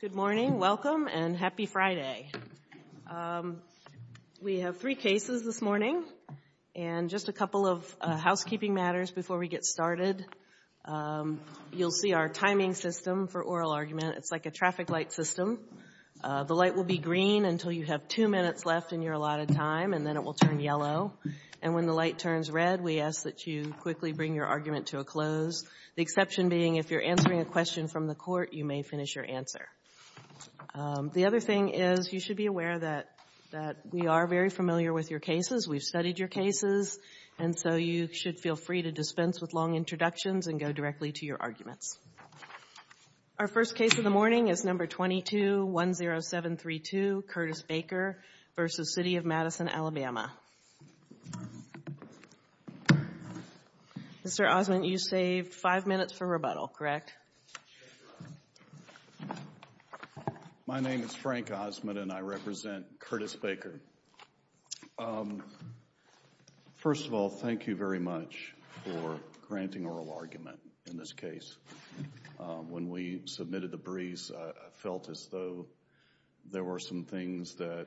Good morning, welcome, and happy Friday. We have three cases this morning and just a couple of housekeeping matters before we get started. You'll see our timing system for oral argument. It's like a traffic light system. The light will be green until you have two minutes left in your allotted time, and then it will turn yellow. And when the light turns red, we ask that you quickly bring your argument to a close, the exception being if you're answering a question from the court, you may finish your answer. The other thing is you should be aware that we are very familiar with your cases. We've studied your cases, and so you should feel free to dispense with long introductions and go directly to your arguments. Our first case of the morning is number 22-10732, Curtis Baker v. City of Madison, Alabama. Mr. Osmond, you saved five minutes for rebuttal, correct? My name is Frank Osmond, and I represent Curtis Baker. First of all, thank you very much for When we submitted the briefs, I felt as though there were some things that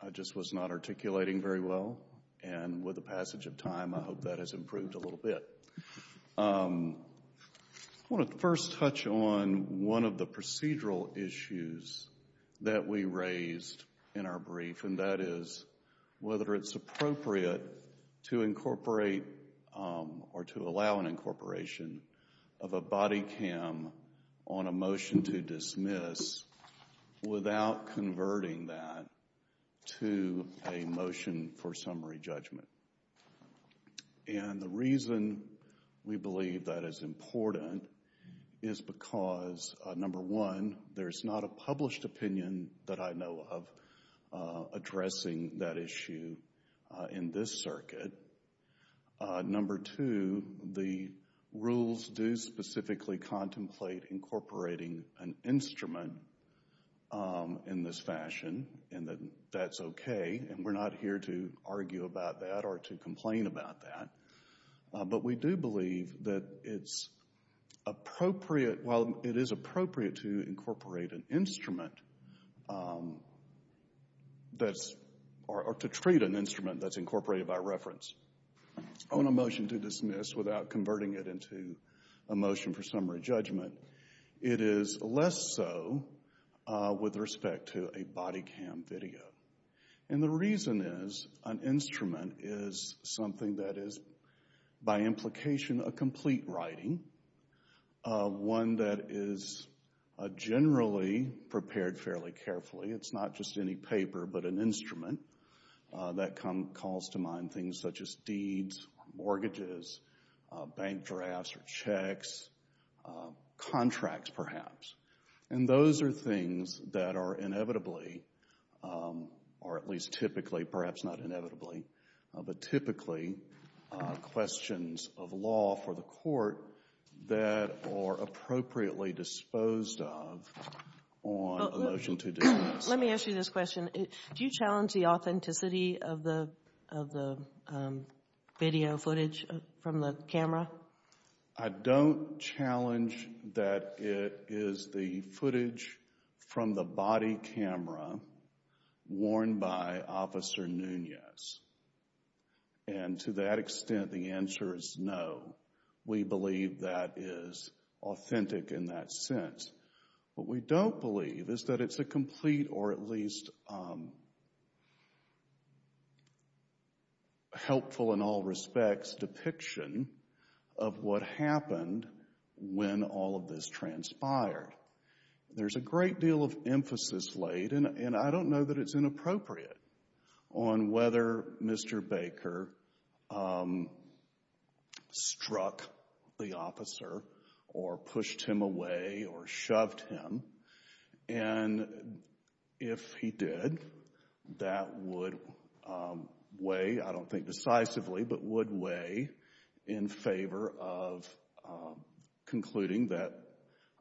I just was not articulating very well, and with the passage of time, I hope that has improved a little bit. I want to first touch on one of the procedural issues that we raised in our brief, and that on a motion to dismiss without converting that to a motion for summary judgment. And the reason we believe that is important is because, number one, there's not a published opinion that I know of addressing that issue in this circuit. Number two, the rules do specifically contemplate incorporating an instrument in this fashion, and that's okay, and we're not here to argue about that or to complain about that. But we do believe that it's appropriate, while it is appropriate to incorporate an instrument, or to treat an instrument that's incorporated by reference, on a motion to dismiss without converting it into a motion for summary judgment, it is less so with respect to a body cam video. And the reason is, an instrument is something that is, by implication, a complete writing, one that is generally prepared fairly carefully. It's not just any paper, but an instrument that calls to mind things such as deeds, mortgages, bank drafts or checks, contracts, perhaps. And those are things that are inevitably, or at least typically, perhaps not inevitably, but typically, questions of law for the Court that are appropriately disposed of on a motion to dismiss. Let me ask you this question. Do you challenge the authenticity of the video footage from the camera? I don't challenge that it is the footage from the body camera worn by Officer Nunez. And to that extent, the answer is no. We believe that is authentic in that sense. What we don't believe is that it's a complete, or at least helpful in all respects, depiction of what happened when all of this transpired. There's a great deal of emphasis laid, and I don't know that it's inappropriate, on whether Mr. Baker struck the officer or pushed him away or shoved him. And if he did, that would weigh, I don't think decisively, but would weigh in favor of concluding that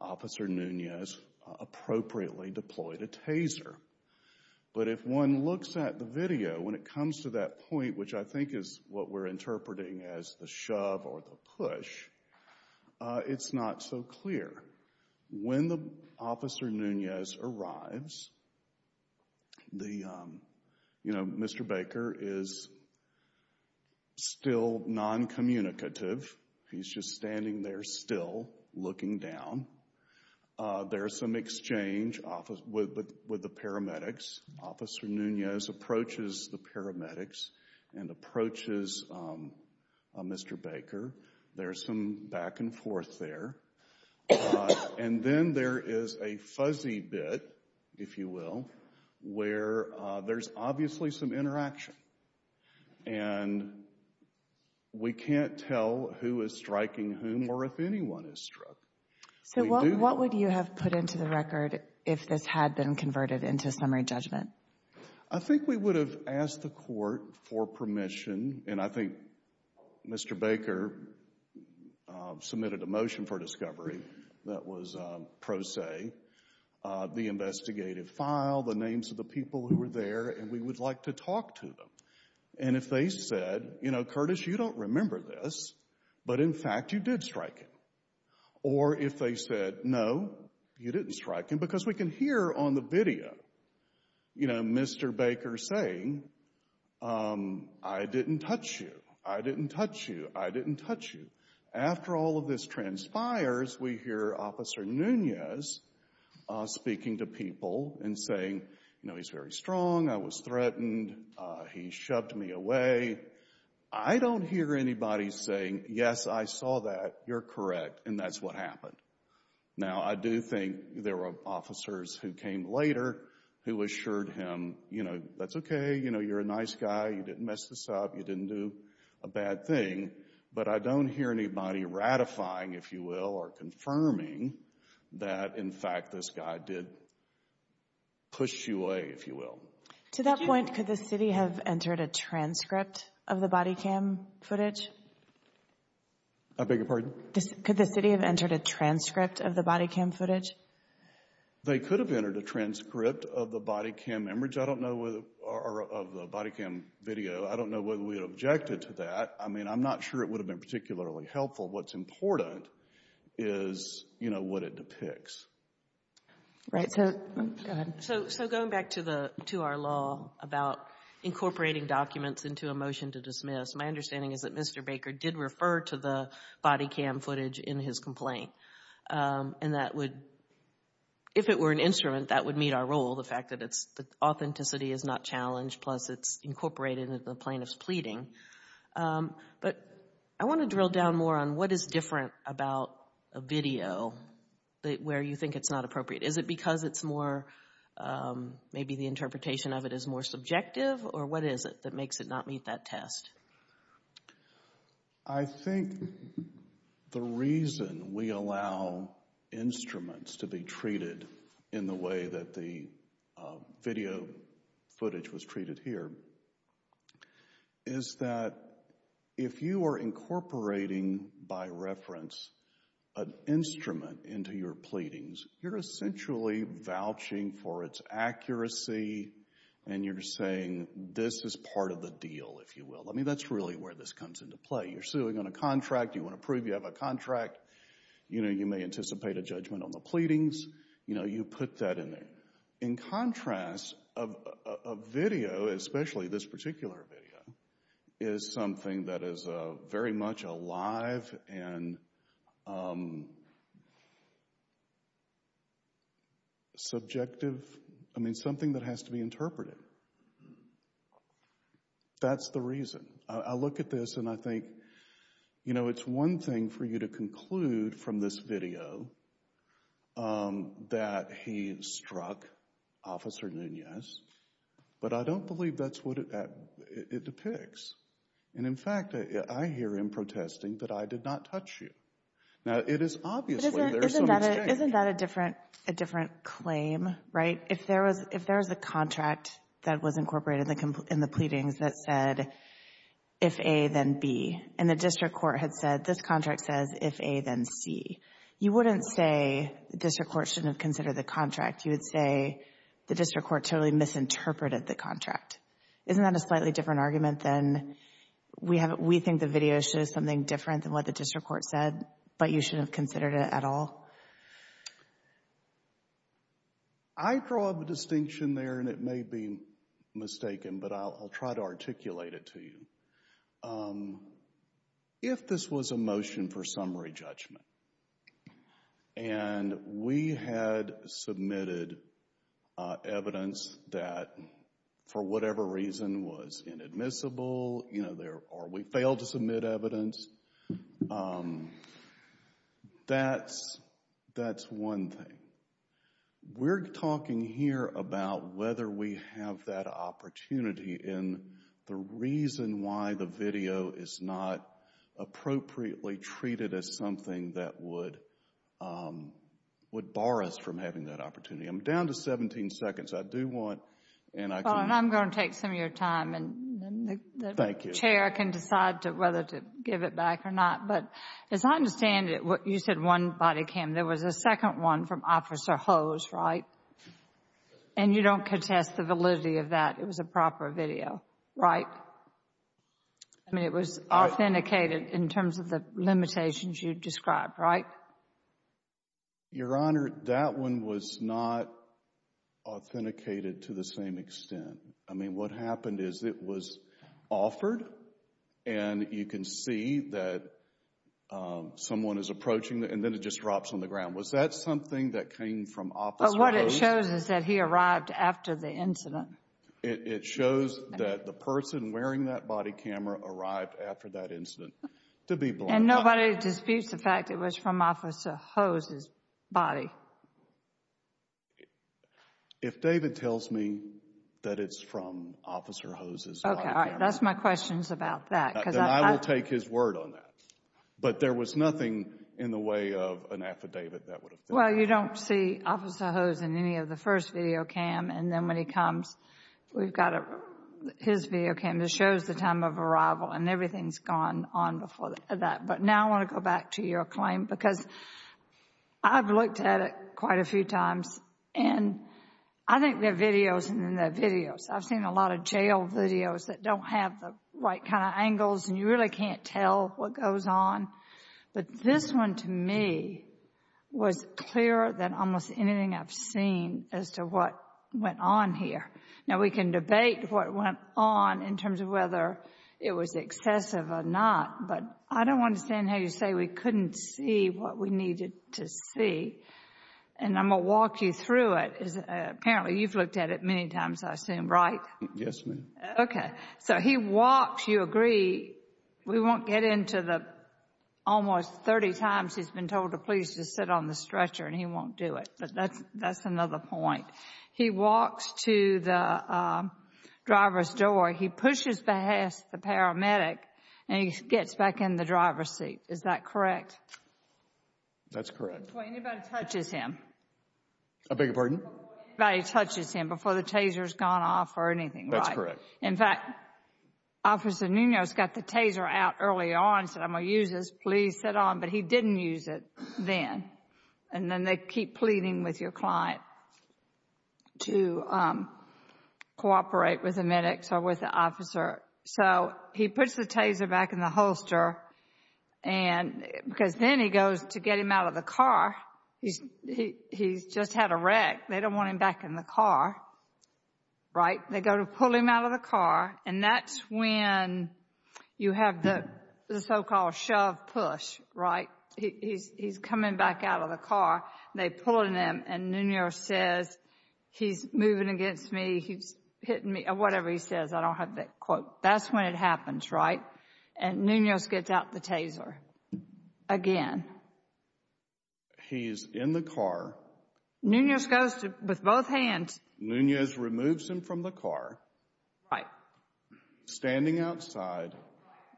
Officer Nunez appropriately deployed a taser. But if one looks at the video, when it comes to that point, which I think is what we're interpreting as the shove or the push, it's not so clear. When Officer Nunez arrives, Mr. Baker is still non-communicative. He's just standing there still, looking down. There's some exchange with the paramedics. Officer Nunez approaches the paramedics and approaches Mr. Baker. There's some back and forth there. And then there is a fuzzy bit, if you will, where there's obviously some interaction. And we can't tell who is striking whom or if anyone is struck. So what would you have put into the record if this had been converted into summary judgment? I think we would have asked the court for permission, and I think Mr. Baker submitted a motion for discovery that was pro se, the investigative file, the names of the people who were there, and we would like to talk to them. And if they said, you know, Curtis, you don't remember this, but in fact you did strike him. Or if they said, no, you didn't strike him, because we can hear on the video, you know, Mr. Baker saying, I didn't touch you, I didn't touch you, I didn't touch you. After all of this transpires, we hear Officer Nunez speaking to people and saying, you know, he's very strong, I was threatened, he shoved me away. I don't hear anybody saying, yes, I saw that, you're correct, and that's what happened. Now, I do think there were officers who came later who assured him, you know, that's okay, you know, you're a nice guy, you didn't mess this up, you didn't do a bad thing. But I don't hear anybody ratifying, if you will, or confirming that in fact this guy did push you away, if you will. To that point, could the city have entered a transcript of the body cam footage? I beg your pardon? Could the city have entered a transcript of the body cam footage? They could have entered a transcript of the body cam image, I don't know, or of the body cam video, I don't know whether we objected to that. I mean, I'm not sure it would have been particularly helpful. What's important is, you know, what it depicts. Right, so going back to our law about incorporating documents into a motion to dismiss, my understanding is that Mr. Baker did refer to the body cam footage in his complaint, and that would, if it were an instrument, that would meet our role, the fact that authenticity is not challenged plus it's incorporated in the plaintiff's pleading. But I want to drill down more on what is different about a video where you think it's not appropriate. Is it because it's more, maybe the interpretation of it is more subjective, or what is it that makes it not meet that test? I think the reason we allow instruments to be treated in the way that the video footage was treated here is that if you are incorporating, by reference, an instrument into your pleadings, you're essentially vouching for its accuracy, and you're saying this is part of the deal, if you will. I mean, that's really where this comes into play. You're suing on a contract, you want to prove you have a contract, you know, you may anticipate a judgment on the The video, especially this particular video, is something that is very much alive and subjective. I mean, something that has to be interpreted. That's the reason. I look at this and I think, you know, it's one thing for you to conclude from this video that he struck Officer Nunez, but I don't believe that's what it depicts. And in fact, I hear him protesting that I did not touch you. Now, it is obviously there is some mistake. Isn't that a different claim, right? If there was a contract that was incorporated in the pleadings that said, if A, then B, and the district court had said, this contract says, if A, then C, you wouldn't say the district court totally misinterpreted the contract. Isn't that a slightly different argument than, we think the video shows something different than what the district court said, but you shouldn't have considered it at all? I draw a distinction there, and it may be mistaken, but I'll try to articulate it to you. If this was a motion for summary judgment, and we had submitted evidence that, for whatever reason, was inadmissible, you know, or we failed to submit evidence, that's one thing. We're talking here about whether we have that opportunity, and the reason why the video is not appropriately treated as something that would bar us from having that opportunity. I'm down to 17 seconds. I do want, and I can... Well, and I'm going to take some of your time, and the chair can decide whether to give it back or not. But as I understand it, you said one body cam. There was a second one from Officer Hose, right? And you don't contest the validity of that. It was a proper video, right? I mean, it was authenticated in terms of the limitations you described, right? Your Honor, that one was not authenticated to the same extent. I mean, what happened is it was offered, and you can see that someone is approaching, and then it just drops on the ground. Was that something that came from Officer Hose? But what it shows is that he arrived after the incident. It shows that the person wearing that body camera arrived after that incident, to be blunt. And nobody disputes the fact it was from Officer Hose's body. If David tells me that it's from Officer Hose's body camera... Okay. All right. That's my questions about that. Then I will take his word on that. But there was nothing in the way of an affidavit that would have... Well, you don't see Officer Hose in any of the first video cam. And then when he comes, we've got his video cam that shows the time of arrival, and everything's gone on before that. But now I want to go back to your claim, because I've looked at it quite a few times. And I think there are videos, and then there are videos. I've seen a lot of jail videos that don't have the right kind of angles, and you really can't tell what goes on. But this one, to me, was clearer than almost anything I've seen as to what went on here. Now, we can debate what went on in terms of whether it was excessive or not. But I don't understand how you say we couldn't see what we needed to see. And I'm going to walk you through it. Apparently, you've looked at it many times, I assume, right? Yes, ma'am. Okay. So he walks, you agree. We won't get into the almost 30 times he's been told to please just sit on the stretcher, and he won't do it. But that's another point. He walks to the driver's door. He pushes past the paramedic, and he gets back in the driver's seat. Is that correct? That's correct. Before anybody touches him. I beg your pardon? Before anybody touches him, before the taser has gone off or anything, right? That's correct. In fact, Officer Nunez got the taser out early on and said, I'm going to use this. Please sit on. But he didn't use it then. And then they keep pleading with your client to cooperate with the medics or with the officer. So he puts the taser back in the holster, because then he goes to get him out of the car. He's just had a wreck. They don't want him back in the car, right? They go to pull him out of the car, and that's when you have the so-called shove push, right? He's coming back out of the car. They're pulling him, and Nunez says, he's moving against me. He's hitting me, or whatever he says. I don't have that quote. That's when it happens, right? And Nunez gets out the taser again. He's in the car. Nunez goes with both hands. Nunez removes him from the car. Right. Standing outside.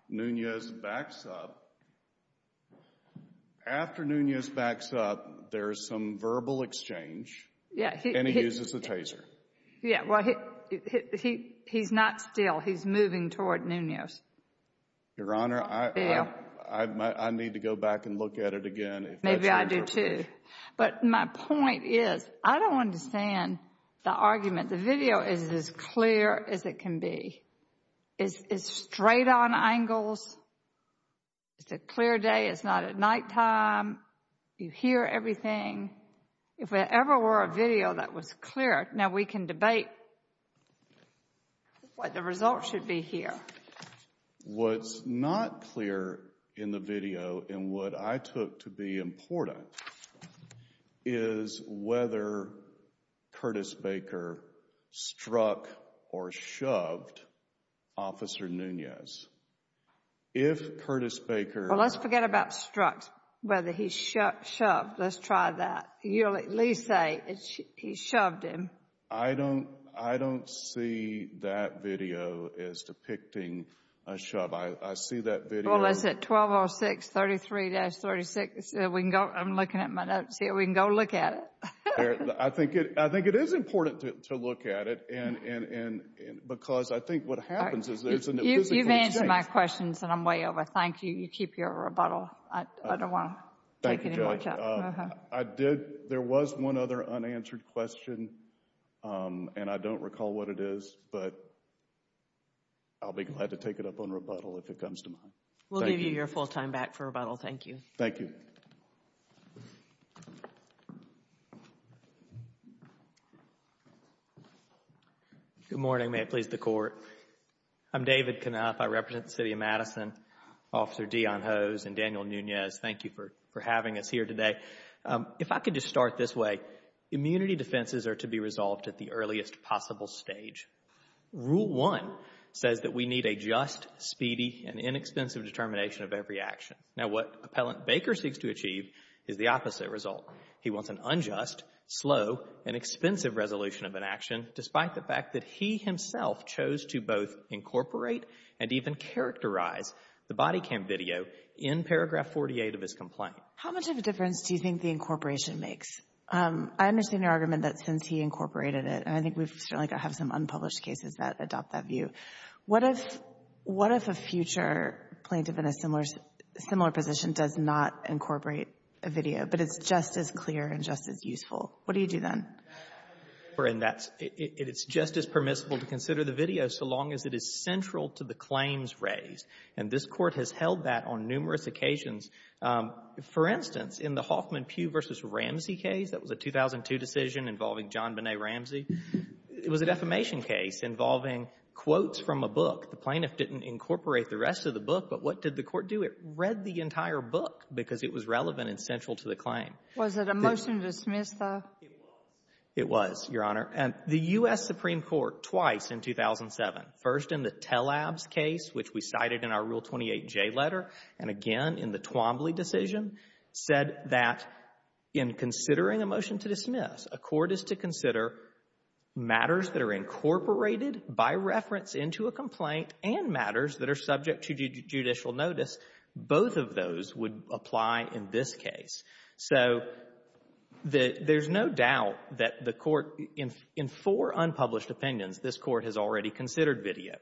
Nunez backs up. After Nunez backs up, there's some verbal exchange, and he uses the taser. Yeah, well, he's not still. He's moving toward Nunez. Your Honor, I need to go back and look at it again. Maybe I do, too. But my point is, I don't understand the argument. The video is as clear as it can be. It's straight on angles. It's a clear day. It's not at nighttime. You hear everything. If there ever were a video that was clear, now we can debate what the results should be here. What's not clear in the video, and what I took to be important, is whether Curtis Baker struck or shoved Officer Nunez. If Curtis Baker Well, let's forget about struck, whether he shoved. Let's try that. You'll at least say he shoved him. I don't see that video as depicting a shove. I see that video Well, is it 120633-36? I'm looking at my notes here. We can go look at it. I think it is important to look at it, because I think what happens is there's an invisible exchange. You've answered my questions, and I'm way over. Thank you. You keep your rebuttal. I don't want to take any more time. Thank you, Judge. There was one other unanswered question, and I don't recall what it is, but I'll be glad to take it up on rebuttal if it comes to mind. We'll give you your full time back for rebuttal. Thank you. Thank you. Good morning. May it please the Court. I'm David Canuff. I represent the City of Madison. Officer Deon Hose and Daniel Nunez, thank you for having us here today. If I could just start this way, immunity defenses are to be resolved at the earliest possible stage. Rule 1 says that we need a just, speedy, and inexpensive determination of every action. Now, what Appellant Baker seeks to achieve is the opposite result. He wants an unjust, slow, and expensive resolution of an action, despite the fact that he himself chose to both incorporate and even characterize the body cam video in paragraph 48 of his complaint. How much of a difference do you think the incorporation makes? I understand your argument that since he incorporated it, and I think we've certainly got to have some unpublished cases that adopt that view, what if a future plaintiff in a similar position does not incorporate a video, but it's just as clear and just as useful? What do you do then? It's just as permissible to consider the video so long as it is central to the claims And this Court has held that on numerous occasions. For instance, in the Hoffman Pugh v. Ramsey case, that was a 2002 decision involving John Bonnet Ramsey, it was a defamation case involving quotes from a book. The plaintiff didn't incorporate the rest of the book, but what did the Court do? It read the entire book because it was relevant and central to the claim. Was it a motion to dismiss, though? It was, Your Honor. The U.S. Supreme Court twice in 2007, first in the Telabs case, which we cited in our Rule 28J letter, and again in the Twombly decision, said that in considering a motion to dismiss, a court is to consider matters that are incorporated by reference into a complaint and matters that are subject to judicial notice. Both of those would apply in this case. So there's no doubt that the Court, in four unpublished opinions, this Court has already considered video.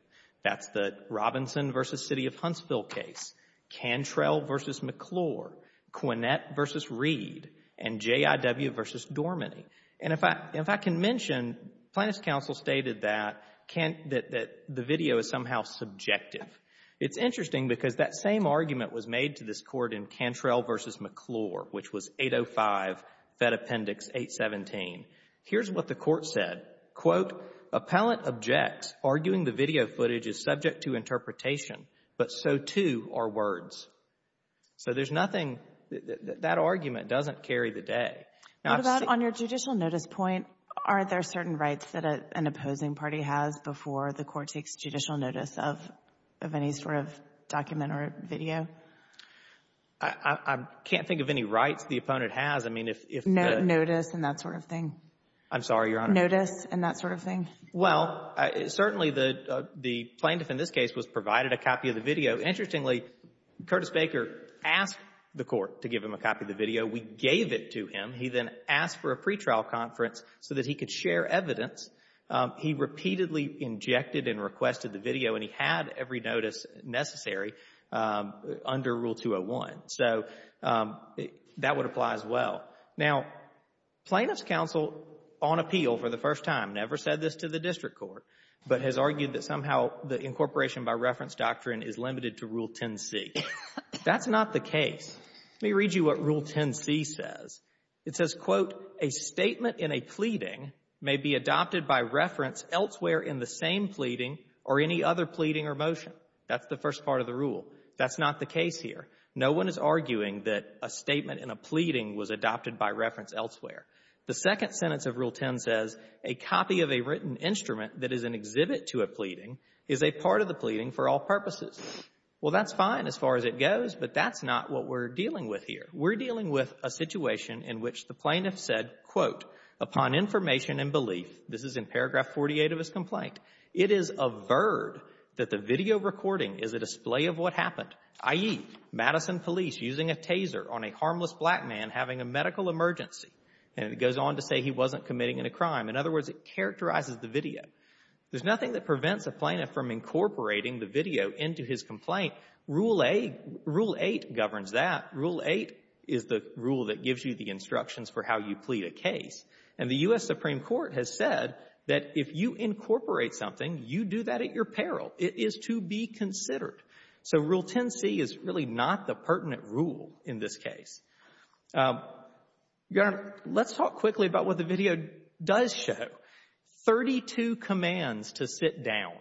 That's the Robinson v. City of Huntsville case, Cantrell v. McClure, Quinette v. Reed, and J.I.W. v. Dorminey. And if I can mention, Plaintiff's counsel stated that the video is somehow subjective. It's interesting because that same argument was made to this Court in Cantrell v. McClure, which was 805, Fed Appendix 817. Here's what the Court said. Quote, Appellant objects, arguing the video footage is subject to interpretation, but so, too, are words. So there's nothing, that argument doesn't carry the day. What about on your judicial notice point, are there certain rights that an opposing party has before the Court takes judicial notice of any sort of document or video? I can't think of any rights the opponent has. I mean, if the — Notice and that sort of thing. I'm sorry, Your Honor. Notice and that sort of thing. Well, certainly the plaintiff in this case was provided a copy of the video. Interestingly, Curtis Baker asked the Court to give him a copy of the video. We gave it to him. He then asked for a pretrial conference so that he could share evidence. He repeatedly injected and requested the video, and he had every notice necessary under Rule 201. So that would apply as well. Now, Plaintiff's Counsel, on appeal for the first time, never said this to the district court, but has argued that somehow the incorporation by reference doctrine is limited to Rule 10c. That's not the case. Let me read you what Rule 10c says. It says, quote, A statement in a pleading may be adopted by reference elsewhere in the same pleading or any other pleading or motion. That's the first part of the rule. That's not the case here. No one is arguing that a statement in a pleading was adopted by reference elsewhere. The second sentence of Rule 10 says, A copy of a written instrument that is an exhibit to a pleading is a part of the pleading for all purposes. Well, that's fine as far as it goes, but that's not what we're dealing with here. We're dealing with a situation in which the plaintiff said, quote, Upon information and belief, this is in paragraph 48 of his complaint, It is averred that the video recording is a display of what happened, i.e., Madison police using a taser on a harmless black man having a medical emergency. And it goes on to say he wasn't committing any crime. In other words, it characterizes the video. There's nothing that prevents a plaintiff from incorporating the video into his complaint. Rule 8 governs that. Rule 8 is the rule that gives you the instructions for how you plead a case. And the U.S. Supreme Court has said that if you incorporate something, you do that at your peril. It is to be considered. So Rule 10c is really not the pertinent rule in this case. Your Honor, let's talk quickly about what the video does show. Thirty-two commands to sit down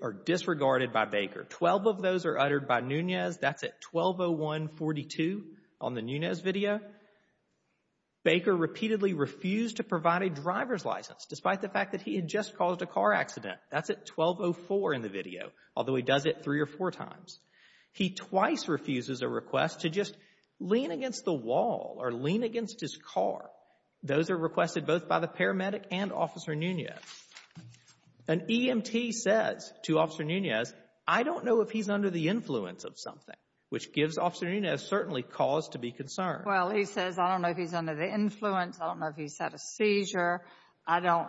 are disregarded by Baker. Twelve of those are uttered by Nunez. That's at 120142 on the Nunez video. Baker repeatedly refused to provide a driver's license, despite the fact that he had just caused a car accident. That's at 1204 in the video, although he does it three or four times. He twice refuses a request to just lean against the wall or lean against his car. Those are requested both by the paramedic and Officer Nunez. An EMT says to Officer Nunez, I don't know if he's under the influence of something, which gives Officer Nunez certainly cause to be concerned. Well, he says, I don't know if he's under the influence. I don't know if he's had a seizure. I don't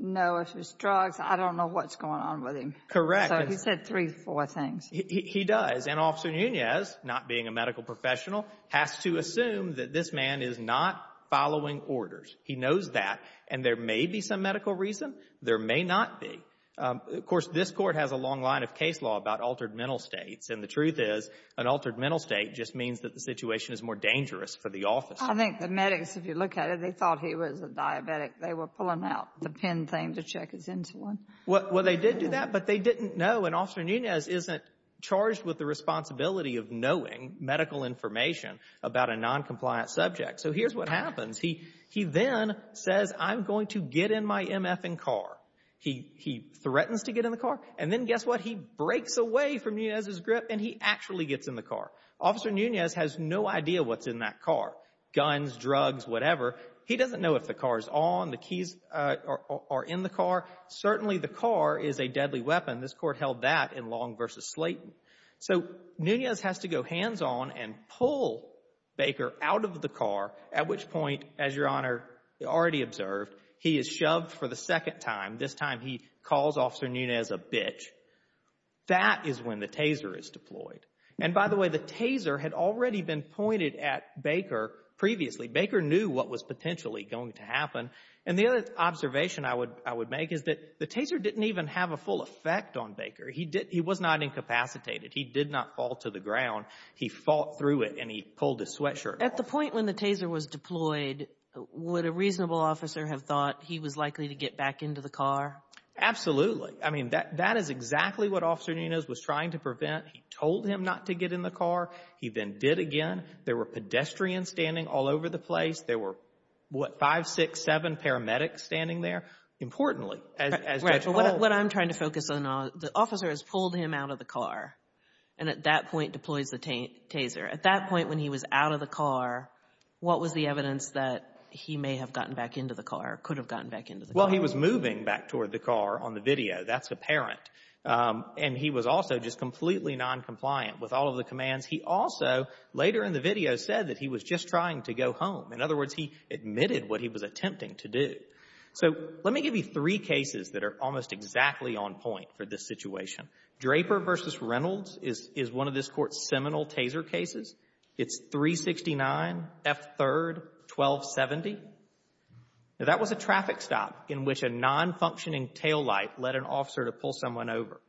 know if it's drugs. I don't know what's going on with him. Correct. So he said three or four things. He does. And Officer Nunez, not being a medical professional, has to assume that this man is not following orders. He knows that. And there may be some medical reason. There may not be. Of course, this Court has a long line of case law about altered mental states. And the truth is an altered mental state just means that the situation is more dangerous for the office. I think the medics, if you look at it, they thought he was a diabetic. They were pulling out the pen thing to check his insulin. Well, they did do that, but they didn't know. And Officer Nunez isn't charged with the responsibility of knowing medical information about a noncompliant subject. So here's what happens. He then says, I'm going to get in my MFing car. He threatens to get in the car. And then guess what? He breaks away from Nunez's grip, and he actually gets in the car. Officer Nunez has no idea what's in that car, guns, drugs, whatever. He doesn't know if the car is on, the keys are in the car. Certainly the car is a deadly weapon. This Court held that in Long v. Slayton. So Nunez has to go hands-on and pull Baker out of the car, at which point, as Your Honor already observed, he is shoved for the second time. This time he calls Officer Nunez a bitch. That is when the taser is deployed. And by the way, the taser had already been pointed at Baker previously. Baker knew what was potentially going to happen. And the other observation I would make is that the taser didn't even have a full effect on Baker. He was not incapacitated. He did not fall to the ground. He fought through it, and he pulled his sweatshirt off. At the point when the taser was deployed, would a reasonable officer have thought he was likely to get back into the car? Absolutely. I mean, that is exactly what Officer Nunez was trying to prevent. He told him not to get in the car. He then did again. There were pedestrians standing all over the place. There were, what, five, six, seven paramedics standing there. What I'm trying to focus on, the officer has pulled him out of the car and at that point deploys the taser. At that point when he was out of the car, what was the evidence that he may have gotten back into the car, could have gotten back into the car? Well, he was moving back toward the car on the video. That's apparent. And he was also just completely noncompliant with all of the commands. He also, later in the video, said that he was just trying to go home. In other words, he admitted what he was attempting to do. So let me give you three cases that are almost exactly on point for this situation. Draper v. Reynolds is one of this Court's seminal taser cases. It's 369 F. 3rd, 1270. That was a traffic stop in which a nonfunctioning taillight led an officer to pull someone over.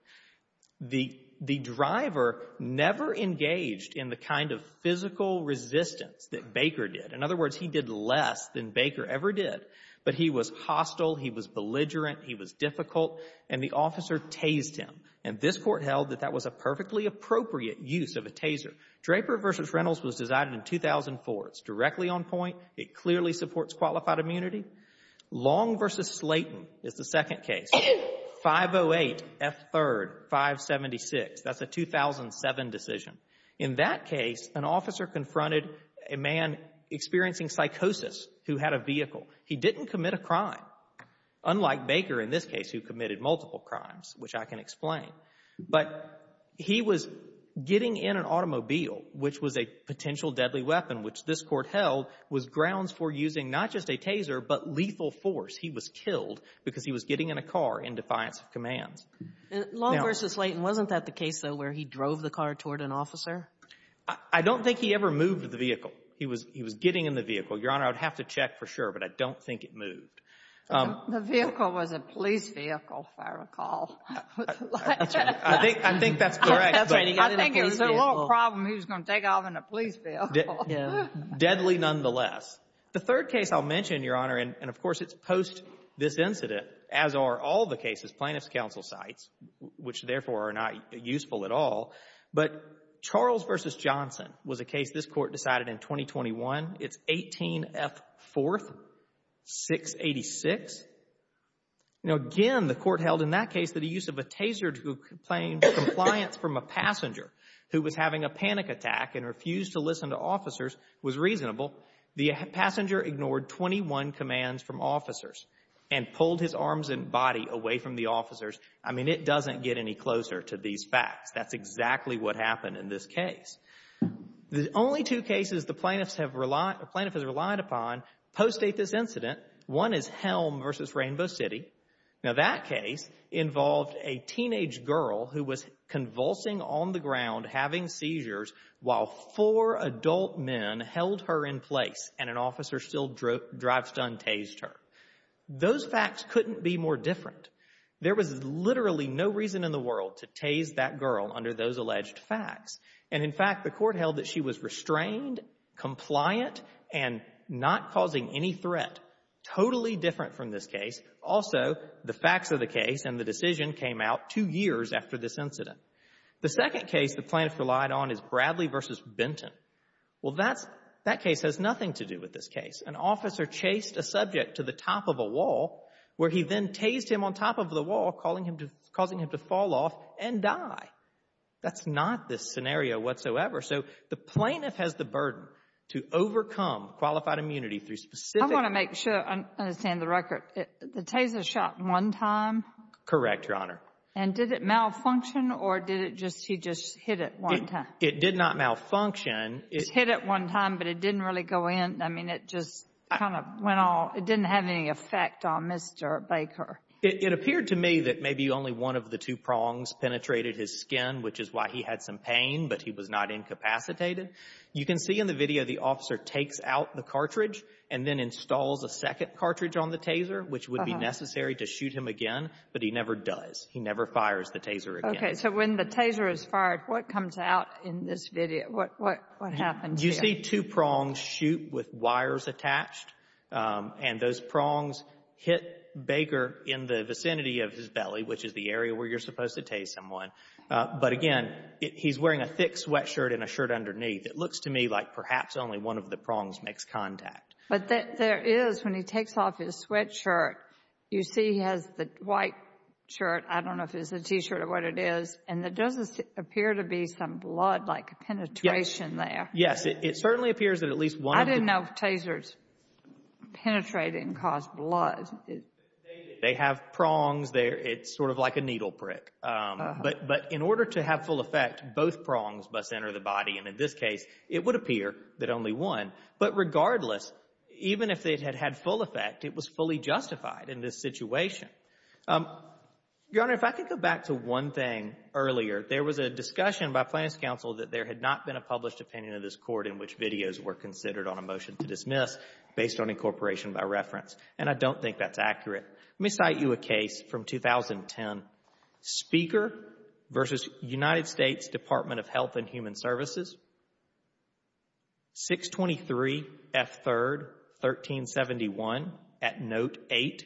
The driver never engaged in the kind of physical resistance that Baker did. In other words, he did less than Baker ever did. But he was hostile, he was belligerent, he was difficult, and the officer tased him. And this Court held that that was a perfectly appropriate use of a taser. Draper v. Reynolds was decided in 2004. It's directly on point. It clearly supports qualified immunity. Long v. Slayton is the second case, 508 F. 3rd, 576. That's a 2007 decision. In that case, an officer confronted a man experiencing psychosis who had a vehicle. He didn't commit a crime, unlike Baker in this case who committed multiple crimes, which I can explain. But he was getting in an automobile, which was a potential deadly weapon, which this Court held was grounds for using not just a taser but lethal force. He was killed because he was getting in a car in defiance of commands. Long v. Slayton, wasn't that the case, though, where he drove the car toward an officer? I don't think he ever moved the vehicle. He was getting in the vehicle. Your Honor, I would have to check for sure, but I don't think it moved. The vehicle was a police vehicle, if I recall. I think that's correct. I think it was a little problem he was going to take off in a police vehicle. Deadly nonetheless. The third case I'll mention, Your Honor, and, of course, it's post this incident, as are all the cases plaintiffs' counsel cites, which, therefore, are not useful at all. But Charles v. Johnson was a case this Court decided in 2021. It's 18F4-686. Now, again, the Court held in that case that the use of a taser to complain compliance from a passenger who was having a panic attack and refused to listen to officers was reasonable. The passenger ignored 21 commands from officers and pulled his arms and body away from the officers. I mean, it doesn't get any closer to these facts. That's exactly what happened in this case. The only two cases the plaintiff has relied upon post-date this incident, one is Helm v. Rainbow City. Now, that case involved a teenage girl who was convulsing on the ground, having seizures, while four adult men held her in place, and an officer still drive-stunned tased her. Those facts couldn't be more different. There was literally no reason in the world to tase that girl under those alleged facts. And, in fact, the Court held that she was restrained, compliant, and not causing any threat. Totally different from this case. Also, the facts of the case and the decision came out two years after this incident. The second case the plaintiff relied on is Bradley v. Benton. Well, that case has nothing to do with this case. An officer chased a subject to the top of a wall, where he then tased him on top of the wall, causing him to fall off and die. That's not this scenario whatsoever. So the plaintiff has the burden to overcome qualified immunity through specific – I want to make sure I understand the record. The taser shot one time? Correct, Your Honor. And did it malfunction, or did he just hit it one time? It did not malfunction. He hit it one time, but it didn't really go in. I mean, it just kind of went all – it didn't have any effect on Mr. Baker. It appeared to me that maybe only one of the two prongs penetrated his skin, which is why he had some pain, but he was not incapacitated. You can see in the video the officer takes out the cartridge and then installs a second cartridge on the taser, which would be necessary to shoot him again, but he never does. He never fires the taser again. Okay, so when the taser is fired, what comes out in this video? What happens here? You see two prongs shoot with wires attached, and those prongs hit Baker in the vicinity of his belly, which is the area where you're supposed to tase someone. But again, he's wearing a thick sweatshirt and a shirt underneath. It looks to me like perhaps only one of the prongs makes contact. But there is, when he takes off his sweatshirt, you see he has the white shirt. I don't know if it's a T-shirt or what it is, and there doesn't appear to be some blood-like penetration there. Yes, it certainly appears that at least one of the – penetrating caused blood. They have prongs there. It's sort of like a needle prick. But in order to have full effect, both prongs must enter the body, and in this case it would appear that only one. But regardless, even if it had had full effect, it was fully justified in this situation. Your Honor, if I could go back to one thing earlier. There was a discussion by Plaintiff's counsel that there had not been a published opinion of this court in which videos were considered on a motion to dismiss based on incorporation by reference. And I don't think that's accurate. Let me cite you a case from 2010. Speaker v. United States Department of Health and Human Services, 623 F. 3rd, 1371, at Note 8.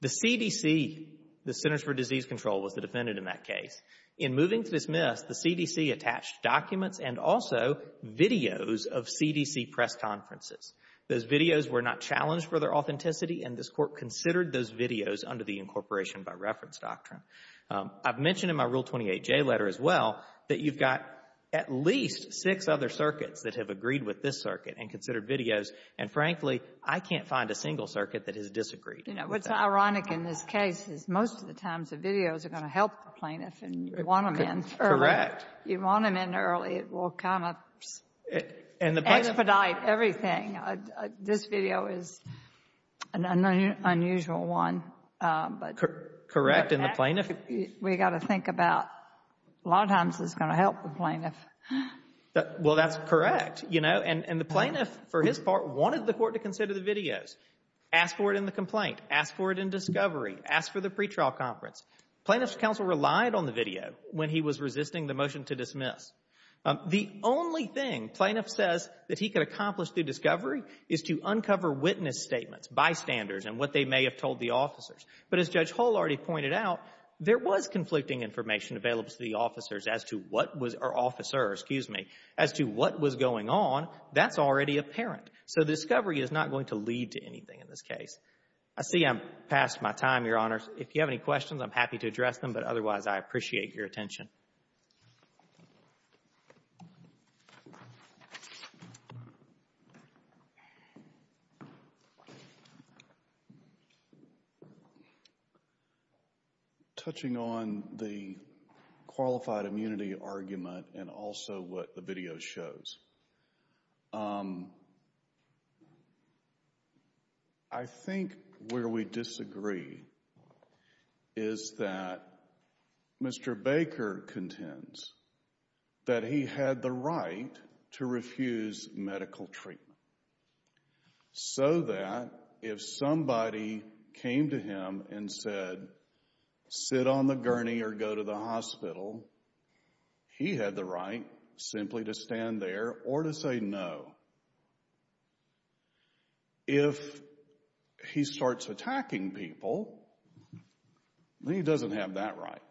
The CDC, the Centers for Disease Control, was the defendant in that case. In moving to dismiss, the CDC attached documents and also videos of CDC press conferences. Those videos were not challenged for their authenticity, and this Court considered those videos under the incorporation by reference doctrine. I've mentioned in my Rule 28J letter as well that you've got at least six other circuits that have agreed with this circuit and considered videos, and frankly, I can't find a single circuit that has disagreed with that. What's ironic in this case is most of the times the videos are going to help the plaintiff and you want them in early. Correct. You want them in early. It will kind of expedite everything. This video is an unusual one. Correct. And the plaintiff — We've got to think about a lot of times it's going to help the plaintiff. Well, that's correct. You know, and the plaintiff, for his part, wanted the Court to consider the videos, ask for it in the complaint, ask for it in discovery, ask for the pretrial conference. Plaintiff's counsel relied on the video when he was resisting the motion to dismiss. The only thing plaintiff says that he could accomplish through discovery is to uncover witness statements, bystanders, and what they may have told the officers. But as Judge Hull already pointed out, there was conflicting information available to the officers as to what was — or officers, excuse me — as to what was going on. That's already apparent. So discovery is not going to lead to anything in this case. I see I'm past my time, Your Honor. If you have any questions, I'm happy to address them. But otherwise, I appreciate your attention. Thank you, Your Honor. Touching on the qualified immunity argument and also what the video shows, I think where we disagree is that Mr. Baker contends that he had the right to refuse medical treatment so that if somebody came to him and said, sit on the gurney or go to the hospital, he had the right simply to stand there or to say no. If he starts attacking people, then he doesn't have that right.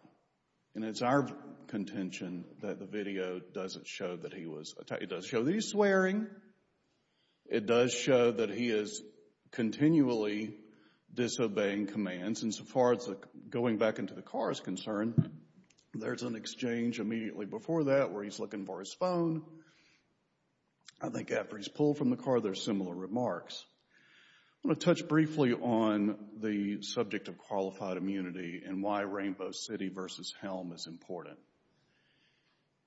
And it's our contention that the video doesn't show that he was — it does show that he's swearing. It does show that he is continually disobeying commands. And since, as far as going back into the car is concerned, there's an exchange immediately before that where he's looking for his phone. I think after he's pulled from the car, there's similar remarks. I want to touch briefly on the subject of qualified immunity and why Rainbow City versus Helm is important.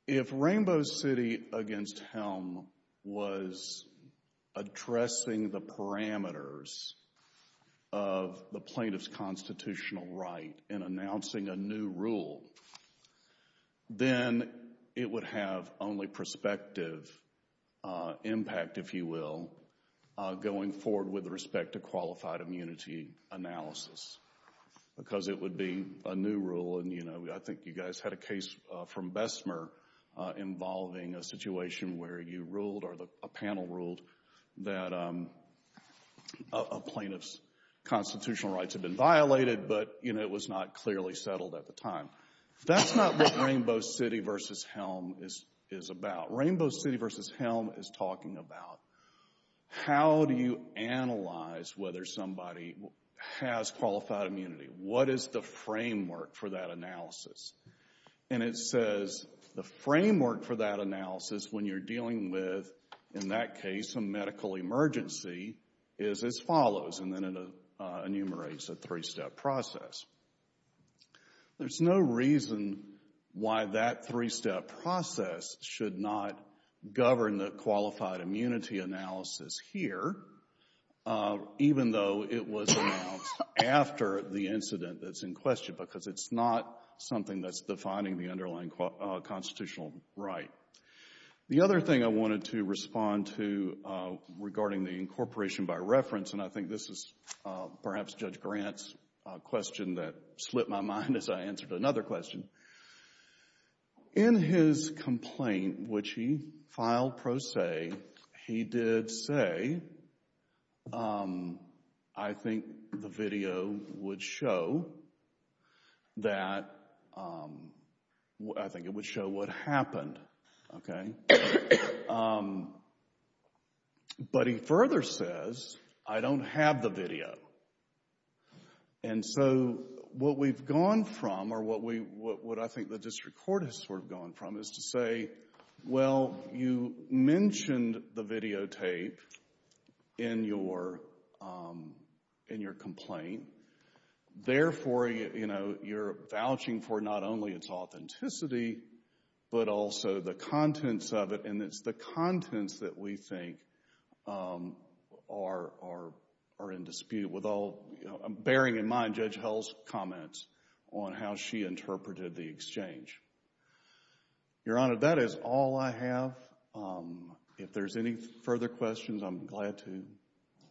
If Rainbow City against Helm was addressing the parameters of the plaintiff's constitutional right in announcing a new rule, then it would have only prospective impact, if you will, going forward with respect to qualified immunity analysis because it would be a new rule. And, you know, I think you guys had a case from Bessemer involving a situation where you ruled or a panel ruled that a plaintiff's constitutional rights had been violated, but, you know, it was not clearly settled at the time. That's not what Rainbow City versus Helm is about. Rainbow City versus Helm is talking about how do you analyze whether somebody has qualified immunity? What is the framework for that analysis? And it says the framework for that analysis when you're dealing with, in that case, a medical emergency is as follows, and then it enumerates a three-step process. There's no reason why that three-step process should not govern the qualified immunity analysis here, even though it was announced after the incident that's in question because it's not something that's defining the underlying constitutional right. The other thing I wanted to respond to regarding the incorporation by reference, and I think this is perhaps Judge Grant's question that slipped my mind as I answered another question. In his complaint, which he filed pro se, he did say, I think the video would show that, I think it would show what happened, okay? But he further says, I don't have the video. And so what we've gone from, or what I think the district court has sort of gone from, is to say, well, you mentioned the videotape in your complaint. Therefore, you're vouching for not only its authenticity, but also the contents of it, and it's the contents that we think are in dispute with all, bearing in mind Judge Hill's comments on how she interpreted the exchange. Your Honor, that is all I have. If there's any further questions, I'm glad to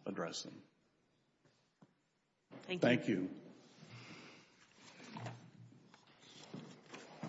address them. Thank you.